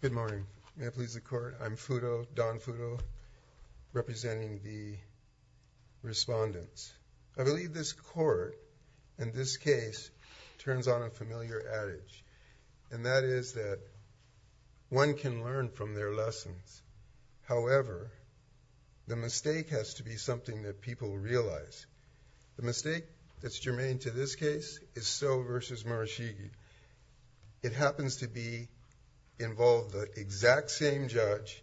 Good morning. May it please the court. I'm Fudo, Don Fudo, representing the respondents. I believe this court, in this case, turns on a familiar adage, and that is that one can learn from their lessons. However, the mistake has to be something that people realize. The mistake that's germane to this case is Stowe v. Murashige. It happens to involve the exact same judge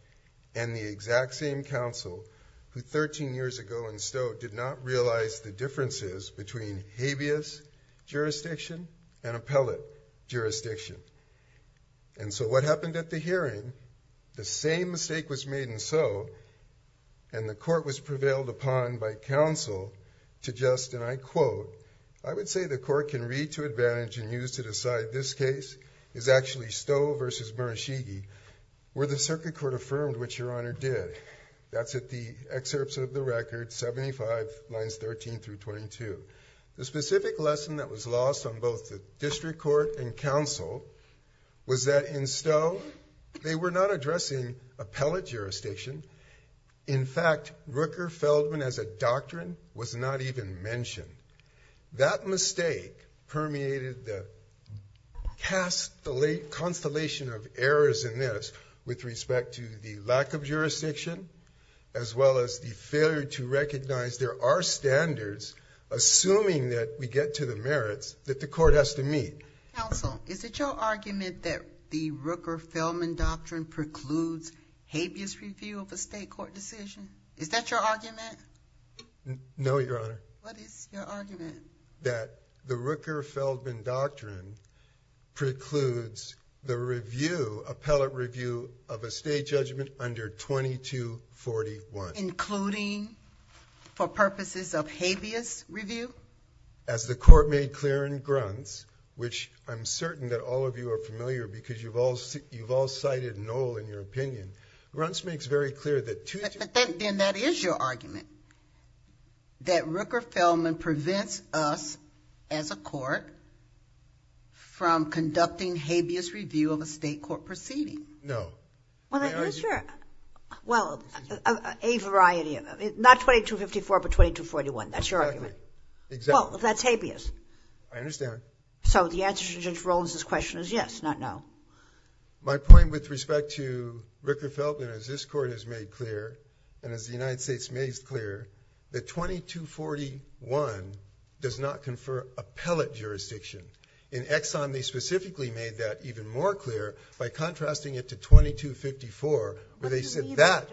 and the exact same counsel who, 13 years ago in Stowe, did not realize the differences between habeas jurisdiction and appellate jurisdiction. And so what happened at the hearing, the same mistake was made in Stowe, and the court was prevailed upon by counsel to just, and I quote, I would say the court can read to advantage and use to decide this case is actually Stowe v. Murashige, where the circuit court affirmed, which your honor did. That's at the excerpts of the record, 75 lines 13 through 22. The specific lesson that was lost on both the district court and counsel was that in Stowe, they were not addressing appellate jurisdiction. In fact, Rooker-Feldman as a doctrine was not even mentioned. That mistake permeated the constellation of errors in this with respect to the lack of jurisdiction, as well as the failure to recognize there are standards, assuming that we get to the merits, that the court has to meet. Counsel, is it your argument that the Rooker-Feldman doctrine precludes habeas review of a state court decision? Is that your argument? No, your honor. What is your argument? I believe that the Rooker-Feldman doctrine precludes the review, appellate review of a state judgment under 2241. Including for purposes of habeas review? As the court made clear in Gruntz, which I'm certain that all of you are familiar because you've all cited Knoll in your opinion. Then that is your argument. That Rooker-Feldman prevents us as a court from conducting habeas review of a state court proceeding. No. Well, a variety of, not 2254, but 2241. That's your argument. Exactly. Well, that's habeas. I understand. So the answer to Judge Rollins' question is yes, not no. My point with respect to Rooker-Feldman is this court has made clear, and as the United States made clear, that 2241 does not confer appellate jurisdiction. In Exxon, they specifically made that even more clear by contrasting it to 2254, where they said that.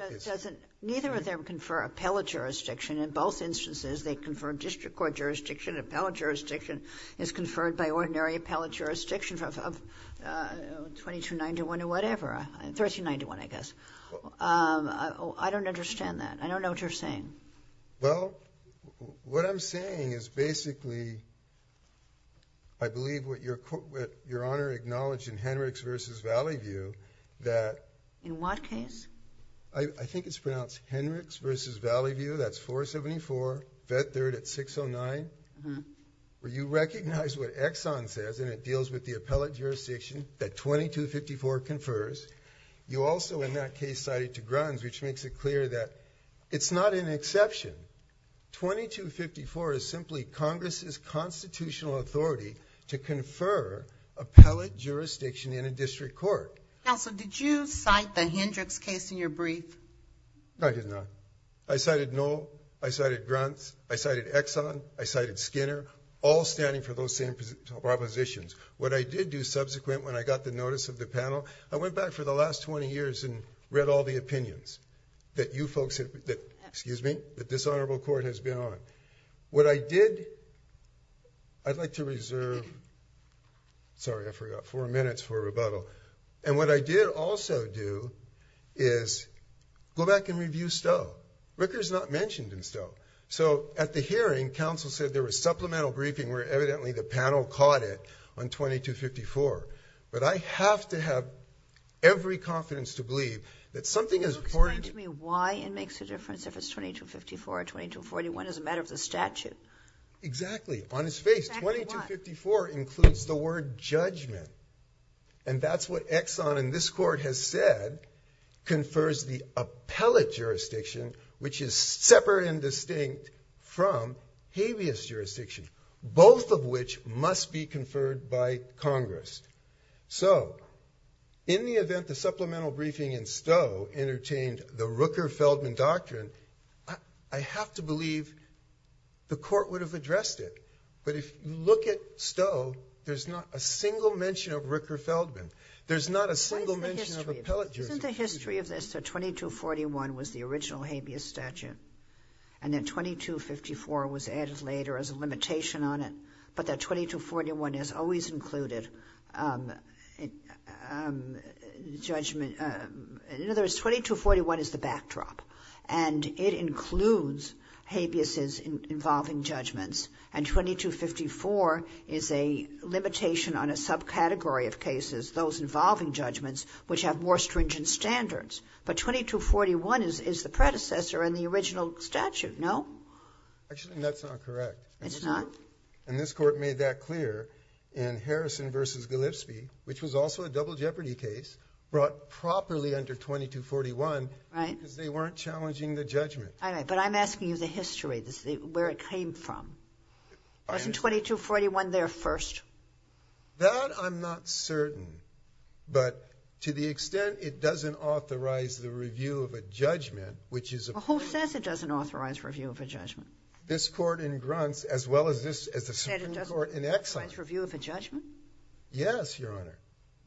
Neither of them confer appellate jurisdiction. In both instances, they confer district court jurisdiction. Appellate jurisdiction is conferred by ordinary appellate jurisdiction of 2291 or whatever. 1391, I guess. I don't understand that. I don't know what you're saying. Well, what I'm saying is basically I believe what Your Honor acknowledged in Henrichs v. Valley View that. In what case? I think it's pronounced Henrichs v. Valley View. That's 474. Vet third at 609. Where you recognize what Exxon says, and it deals with the appellate jurisdiction that 2254 confers. You also in that case cited to Gruns, which makes it clear that it's not an exception. 2254 is simply Congress's constitutional authority to confer appellate jurisdiction in a district court. Counsel, did you cite the Hendricks case in your brief? I did not. I cited Noll. I cited Gruns. I cited Exxon. I cited Skinner. All standing for those same propositions. What I did do subsequent when I got the notice of the panel, I went back for the last 20 years and read all the opinions that you folks, excuse me, that this honorable court has been on. What I did, I'd like to reserve, sorry, I forgot, four minutes for rebuttal. And what I did also do is go back and review Stowe. Ricker's not mentioned in Stowe. So at the hearing, counsel said there was supplemental briefing where evidently the panel caught it on 2254. But I have to have every confidence to believe that something is important. Can you explain to me why it makes a difference if it's 2254 or 2241 as a matter of the statute? Exactly. On his face. 2254 includes the word judgment. And that's what Exxon in this court has said confers the appellate jurisdiction, which is separate and distinct from habeas jurisdiction. Both of which must be conferred by Congress. So in the event the supplemental briefing in Stowe entertained the Rooker-Feldman doctrine, I have to believe the court would have addressed it. But if you look at Stowe, there's not a single mention of Rooker-Feldman. There's not a single mention of appellate jurisdiction. Isn't the history of this that 2241 was the original habeas statute? And then 2254 was added later as a limitation on it. But that 2241 has always included judgment. In other words, 2241 is the backdrop. And it includes habeases involving judgments. And 2254 is a limitation on a subcategory of cases, those involving judgments, which have more stringent standards. But 2241 is the predecessor in the original statute, no? Actually, that's not correct. It's not? And this court made that clear in Harrison v. Gillispie, which was also a double jeopardy case, brought properly under 2241 because they weren't challenging the judgment. All right, but I'm asking you the history, where it came from. Wasn't 2241 there first? That I'm not certain. But to the extent it doesn't authorize the review of a judgment, which is a problem. Well, who says it doesn't authorize review of a judgment? This court in Gruntz, as well as the Supreme Court in Exxon. Said it doesn't authorize review of a judgment? Yes, Your Honor.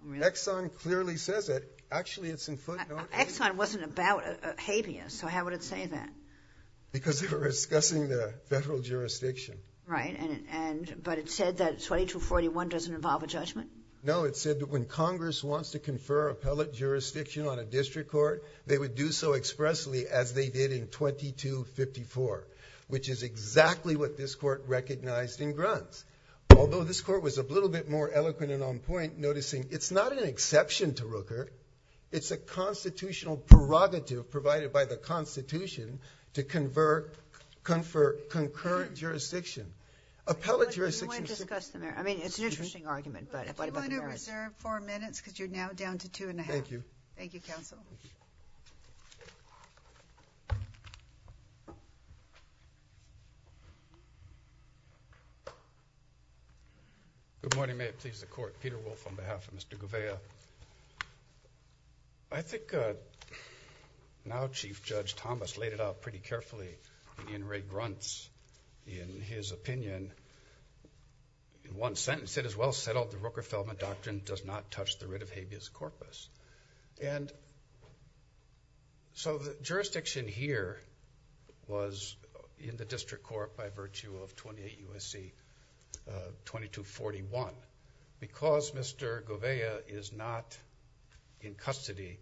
Really? Exxon clearly says it. Actually, it's in footnotes. Exxon wasn't about habeas, so how would it say that? Because they were discussing the federal jurisdiction. Right, but it said that 2241 doesn't involve a judgment? No, it said that when Congress wants to confer appellate jurisdiction on a district court, they would do so expressly as they did in 2254, which is exactly what this court recognized in Gruntz. Although this court was a little bit more eloquent and on point, noticing it's not an exception to Rooker. It's a constitutional prerogative provided by the Constitution to confer concurrent jurisdiction. Appellate jurisdiction... You want to discuss the merits? I mean, it's an interesting argument, but what about the merits? If you want to reserve four minutes, because you're now down to two and a half. Thank you. Thank you, counsel. Good morning. May it please the court. Peter Wolfe on behalf of Mr. Gouveia. I think now Chief Judge Thomas laid it out pretty carefully in Ray Gruntz in his opinion. In one sentence, it is well settled the Rooker-Feldman Doctrine does not touch the writ of habeas corpus. The jurisdiction here was in the district court by virtue of 28 U.S.C. 2241. Because Mr. Gouveia is not in custody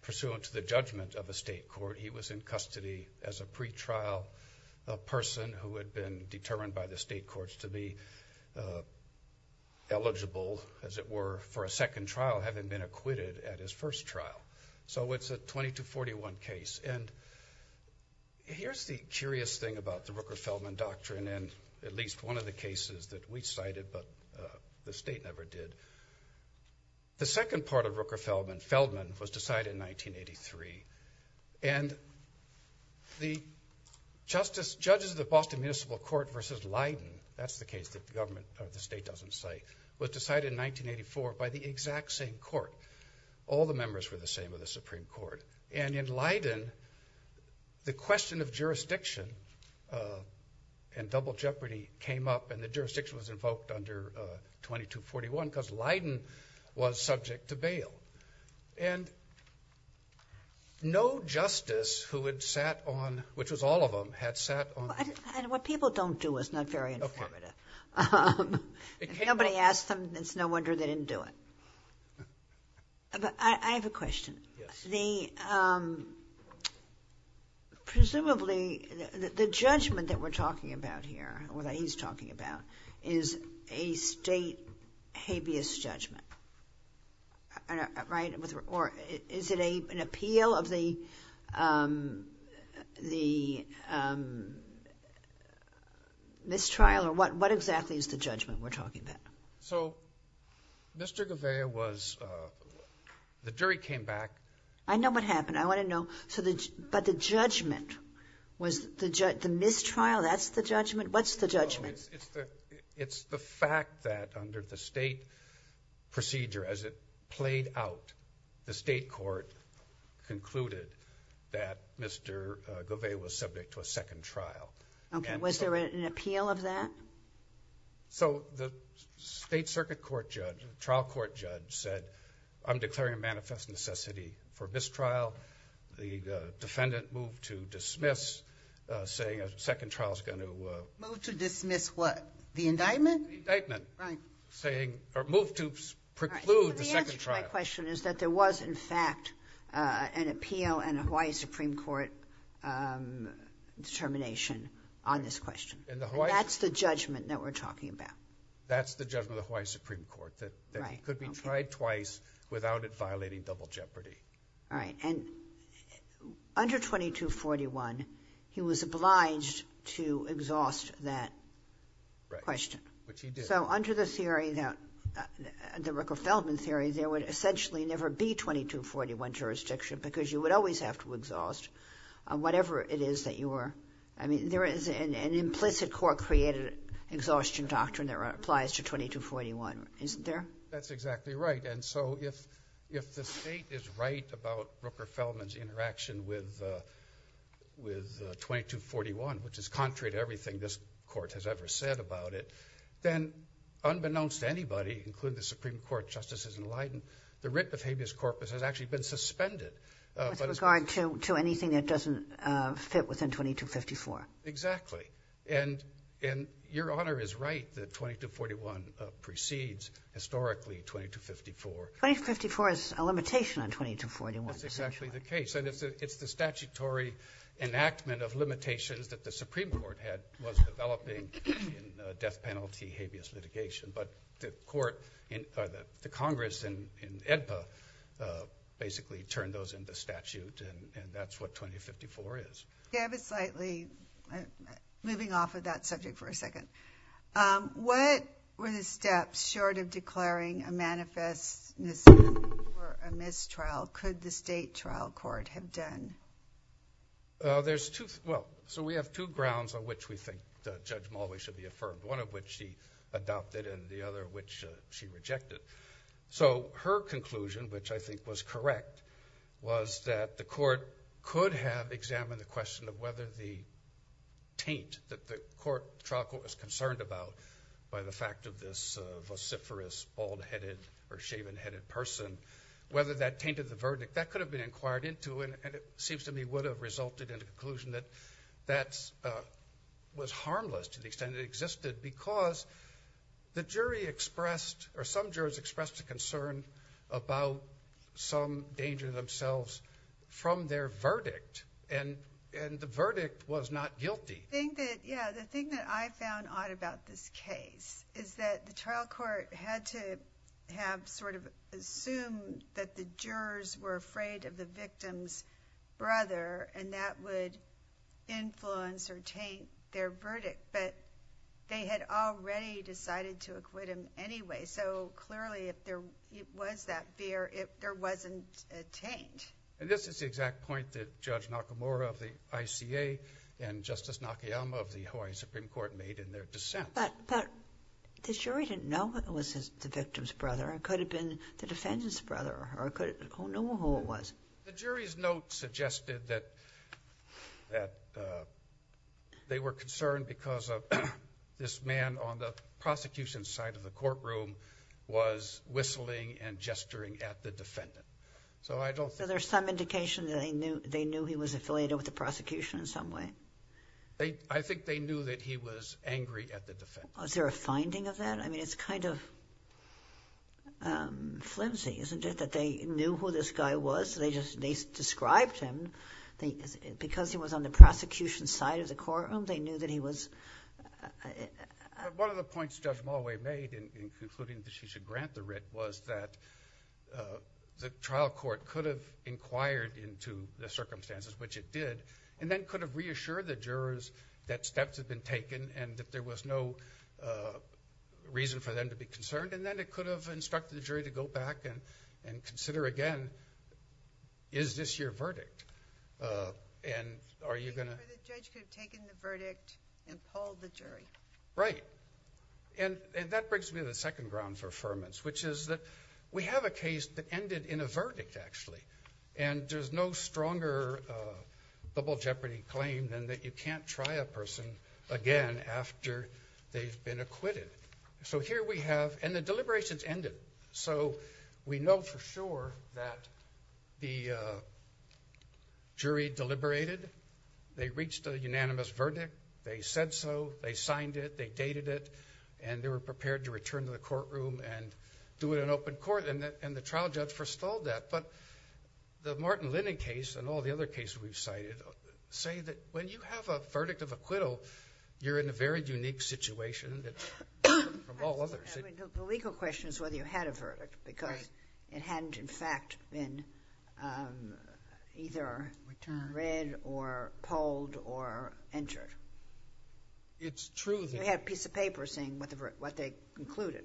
pursuant to the judgment of a state court, he was in custody as a pretrial, a person who had been determined by the state courts to be eligible, as it were, for a second trial, having been acquitted at his first trial. So, it's a 2241 case. And here's the curious thing about the Rooker-Feldman Doctrine, and at least one of the cases that we cited, but the state never did. The second part of Rooker-Feldman, Feldman, was decided in 1983. And the judges of the Boston Municipal Court versus Leiden, that's the case that the state doesn't cite, was decided in 1984 by the exact same court. All the members were the same of the Supreme Court. And in Leiden, the question of jurisdiction and double jeopardy came up, and the jurisdiction was invoked under 2241 because Leiden was subject to bail. And no justice who had sat on, which was all of them, had sat on. And what people don't do is not very informative. Okay. If nobody asked them, it's no wonder they didn't do it. But I have a question. Yes. Presumably, the judgment that we're talking about here, or that he's talking about, is a state habeas judgment, right? Or is it an appeal of the mistrial, or what exactly is the judgment we're talking about? So Mr. Gouveia was, the jury came back. I know what happened. I want to know. But the judgment, was the mistrial, that's the judgment? What's the judgment? It's the fact that under the state procedure, as it played out, the state court concluded that Mr. Gouveia was subject to a second trial. Okay. Was there an appeal of that? So the state circuit court judge, trial court judge, said, I'm declaring a manifest necessity for mistrial. The defendant moved to dismiss, saying a second trial is going to- Moved to dismiss what? The indictment? The indictment. Right. Saying, or moved to preclude the second trial. The answer to my question is that there was, in fact, an appeal and a Hawaii Supreme Court determination on this question. And that's the judgment that we're talking about? That's the judgment of the Hawaii Supreme Court. That he could be tried twice without it violating double jeopardy. All right. And under 2241, he was obliged to exhaust that question. Right. Which he did. So under the theory, the Ricker-Feldman theory, there would essentially never be 2241 jurisdiction, because you would always have to exhaust whatever it is that you were- I mean, there is an implicit court-created exhaustion doctrine that applies to 2241, isn't there? That's exactly right. And so if the state is right about Rooker-Feldman's interaction with 2241, which is contrary to everything this court has ever said about it, then unbeknownst to anybody, including the Supreme Court, Justices and Lydon, the writ of habeas corpus has actually been suspended. With regard to anything that doesn't fit within 2254? Exactly. And your Honor is right that 2241 precedes, historically, 2254. 2254 is a limitation on 2241. That's exactly the case. And it's the statutory enactment of limitations that the Supreme Court was developing in death penalty habeas litigation. But the Congress in AEDPA basically turned those into statute, and that's what 2254 is. David, slightly moving off of that subject for a second. What were the steps, short of declaring a manifest misdemeanor or a mistrial, could the state trial court have done? Well, so we have two grounds on which we think Judge Mulway should be affirmed, one of which she adopted and the other which she rejected. So her conclusion, which I think was correct, was that the court could have examined the question of whether the taint that the trial court was concerned about by the fact of this vociferous, bald-headed, or shaven-headed person, whether that tainted the verdict. That could have been inquired into, and it seems to me would have resulted in a conclusion that that was harmless to the extent it existed because the jury expressed, or some jurors expressed a concern about some danger to themselves from their verdict. And the verdict was not guilty. Yeah, the thing that I found odd about this case is that the trial court had to have sort of assumed that the jurors were afraid of the victim's brother, and that would influence or taint their verdict, but they had already decided to acquit him anyway. So clearly, if there was that fear, there wasn't a taint. And this is the exact point that Judge Nakamura of the ICA and Justice Nakayama of the Hawaii Supreme Court made in their dissent. But the jury didn't know it was the victim's brother. It could have been the defendant's brother. Who knew who it was? The jury's note suggested that they were concerned because this man on the prosecution side of the courtroom was whistling and gesturing at the defendant. So there's some indication that they knew he was affiliated with the prosecution in some way? I think they knew that he was angry at the defendant. Is there a finding of that? I mean, it's kind of flimsy, isn't it, that they knew who this guy was? They just described him. Because he was on the prosecution side of the courtroom, they knew that he was – One of the points Judge Mulway made in concluding that she should grant the writ was that the trial court could have inquired into the circumstances, which it did, and then could have reassured the jurors that steps had been taken and that there was no reason for them to be concerned. And then it could have instructed the jury to go back and consider again, is this your verdict? So the judge could have taken the verdict and pulled the jury? Right. And that brings me to the second ground for affirmance, which is that we have a case that ended in a verdict, actually. And there's no stronger double jeopardy claim than that you can't try a person again after they've been acquitted. So here we have – and the deliberations ended. So we know for sure that the jury deliberated. They reached a unanimous verdict. They said so. They signed it. They dated it. And they were prepared to return to the courtroom and do it in open court. And the trial judge forestalled that. But the Martin Linden case and all the other cases we've cited say that when you have a verdict of acquittal, you're in a very unique situation from all others. The legal question is whether you had a verdict because it hadn't, in fact, been either read or polled or entered. It's true. You had a piece of paper saying what they concluded.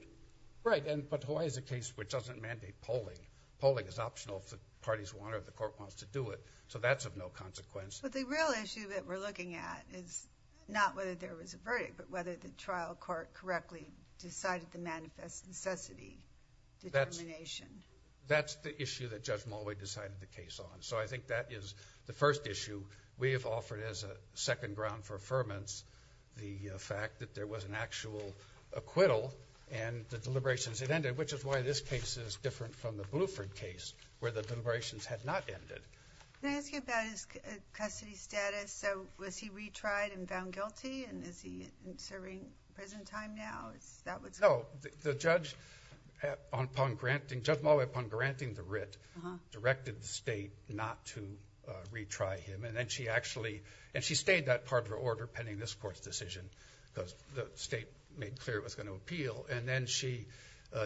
Right. But Hawaii is a case which doesn't mandate polling. Polling is optional if the parties want it or the court wants to do it. So that's of no consequence. But the real issue that we're looking at is not whether there was a verdict, but whether the trial court correctly decided to manifest necessity determination. That's the issue that Judge Mulway decided the case on. So I think that is the first issue. We have offered as a second ground for affirmance the fact that there was an actual acquittal and the deliberations had ended, which is why this case is different from the Bluford case where the deliberations had not ended. Can I ask you about his custody status? So was he retried and found guilty and is he serving prison time now? No. Judge Mulway, upon granting the writ, directed the state not to retry him. And she stayed that part of her order pending this court's decision because the state made clear it was going to appeal. And then she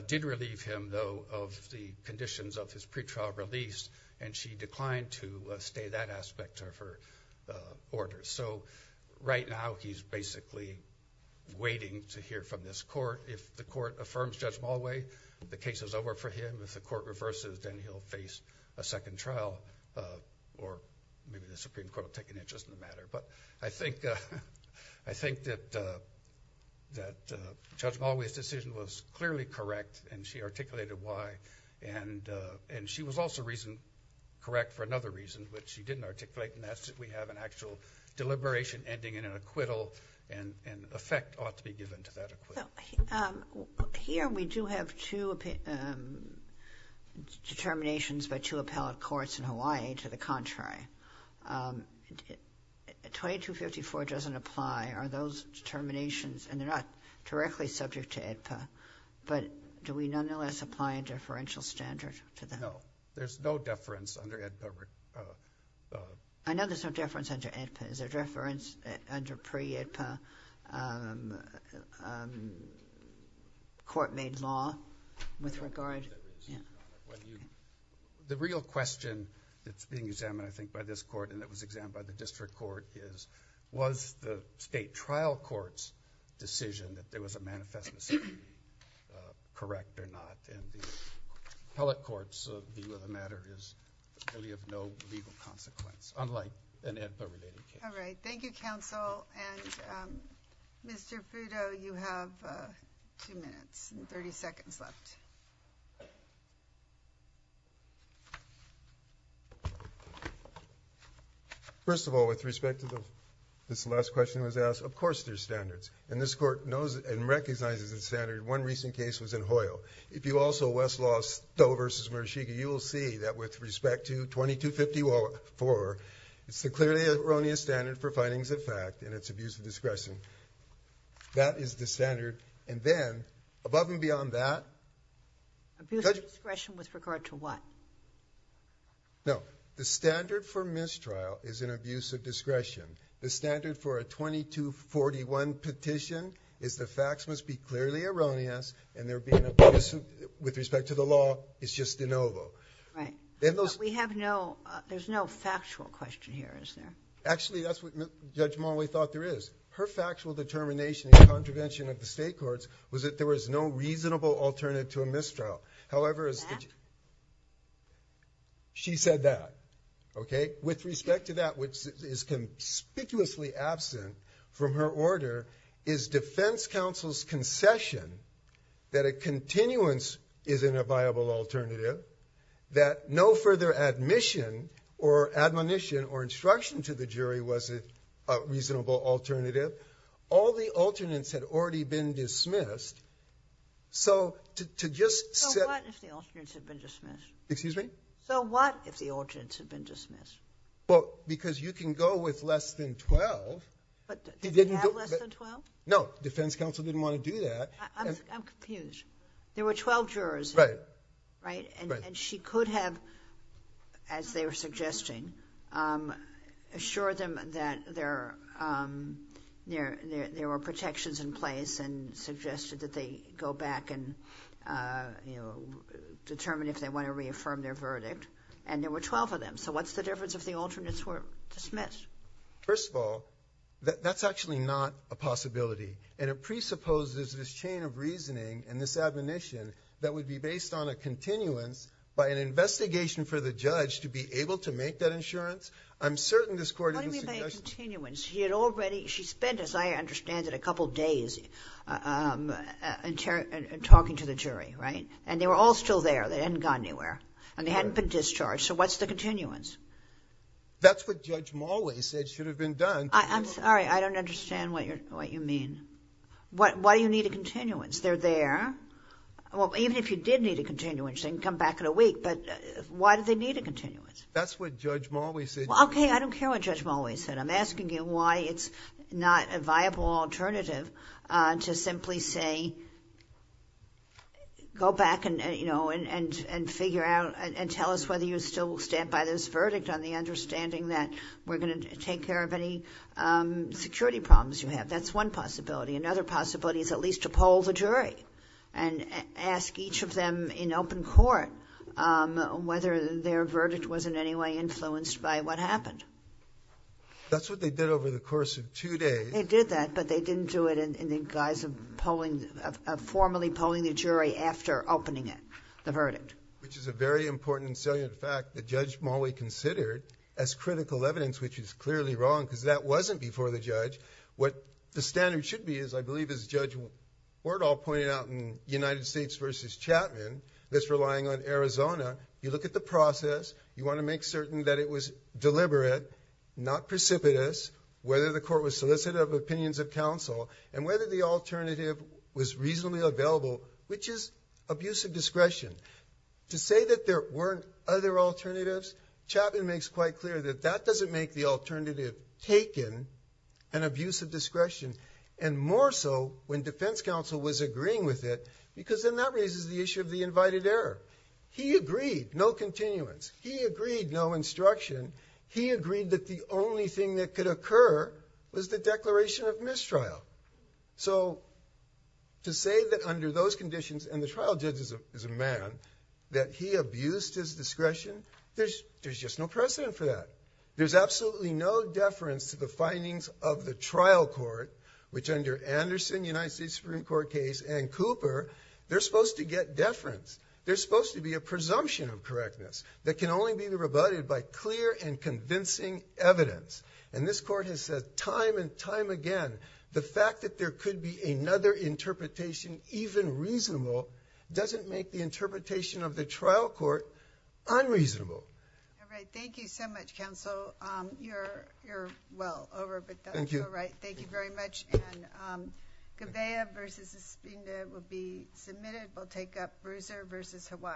did relieve him, though, of the conditions of his pretrial release and she declined to stay that aspect of her order. So right now he's basically waiting to hear from this court. If the court affirms Judge Mulway, the case is over for him. If the court reverses, then he'll face a second trial or maybe the Supreme Court will take an interest in the matter. But I think that Judge Mulway's decision was clearly correct and she articulated why. And she was also correct for another reason, which she didn't articulate, and that's that we have an actual deliberation ending in an acquittal and effect ought to be given to that acquittal. Here we do have two determinations by two appellate courts in Hawaii to the contrary. 2254 doesn't apply. Are those determinations, and they're not directly subject to AEDPA, but do we nonetheless apply a deferential standard to them? No. There's no deference under AEDPA. I know there's no deference under AEDPA. Is there deference under pre-AEDPA court-made law with regard? The real question that's being examined, I think, by this court and that was examined by the district court is was the state trial court's decision that there was a manifesto decision correct or not? And the appellate court's view of the matter is really of no legal consequence, unlike an AEDPA-related case. All right. Thank you, counsel. And, Mr. Fruto, you have two minutes and 30 seconds left. First of all, with respect to this last question that was asked, of course there's standards. And this court knows and recognizes the standard. One recent case was in Hoyle. If you also Westlaw Stowe v. Murashige, you will see that with respect to 2254, it's the clearly erroneous standard for findings of fact and it's abuse of discretion. That is the standard. And then, above and beyond that. Abuse of discretion with regard to what? No. The standard for mistrial is an abuse of discretion. The standard for a 2241 petition is the facts must be clearly erroneous, and there being abuse with respect to the law is just de novo. Right. We have no, there's no factual question here, is there? Actually, that's what Judge Monway thought there is. Her factual determination in contravention of the state courts was that there was no reasonable alternative to a mistrial. However, she said that. Okay? With respect to that, which is conspicuously absent from her order, is defense counsel's concession that a continuance isn't a viable alternative, that no further admission or admonition or instruction to the jury was a reasonable alternative. All the alternates had already been dismissed. So, to just. So, what if the alternates had been dismissed? Excuse me? So, what if the alternates had been dismissed? Well, because you can go with less than 12. But did they have less than 12? No, defense counsel didn't want to do that. I'm confused. There were 12 jurors. Right. Right? Right. And she could have, as they were suggesting, assured them that there were protections in place and suggested that they go back and, you know, determine if they want to reaffirm their verdict. And there were 12 of them. So, what's the difference if the alternates were dismissed? First of all, that's actually not a possibility. And it presupposes this chain of reasoning and this admonition that would be based on a continuance by an investigation for the judge to be able to make that insurance. I'm certain this court. How did we make a continuance? She had already. She spent, as I understand it, a couple days talking to the jury. Right? And they were all still there. They hadn't gone anywhere. And they hadn't been discharged. So, what's the continuance? That's what Judge Mulway said should have been done. I'm sorry. I don't understand what you mean. Why do you need a continuance? They're there. Well, even if you did need a continuance, they can come back in a week. But why do they need a continuance? That's what Judge Mulway said. Okay. I don't care what Judge Mulway said. I'm asking you why it's not a viable alternative to simply say, go back and, you know, and figure out and tell us whether you still stand by this verdict on the understanding that we're going to take care of any security problems you have. That's one possibility. Another possibility is at least to poll the jury and ask each of them in open court whether their verdict was in any way influenced by what happened. That's what they did over the course of two days. They did that, but they didn't do it in the guise of formally polling the jury after opening it, the verdict. Which is a very important and salient fact that Judge Mulway considered as critical evidence, which is clearly wrong because that wasn't before the judge. What the standard should be is, I believe, as Judge Wardall pointed out in United States v. Chapman, this relying on Arizona, you look at the process, you want to make certain that it was deliberate, not precipitous, whether the court was solicited of opinions of counsel, and whether the alternative was reasonably available, which is abuse of discretion. To say that there weren't other alternatives, Chapman makes quite clear that that doesn't make the alternative taken, an abuse of discretion, and more so when defense counsel was agreeing with it because then that raises the issue of the invited error. He agreed, no continuance. He agreed, no instruction. He agreed that the only thing that could occur was the declaration of mistrial. So to say that under those conditions, and the trial judge is a man, that he abused his discretion, there's just no precedent for that. There's absolutely no deference to the findings of the trial court, which under Anderson, United States Supreme Court case, and Cooper, they're supposed to get deference. There's supposed to be a presumption of correctness that can only be rebutted by clear and convincing evidence. And this court has said time and time again, the fact that there could be another interpretation, even reasonable, doesn't make the interpretation of the trial court unreasonable. All right. Thank you so much, counsel. You're well over, but you're right. Thank you very much. And Gavea versus Espina will be submitted. We'll take up Bruiser versus Hawaii.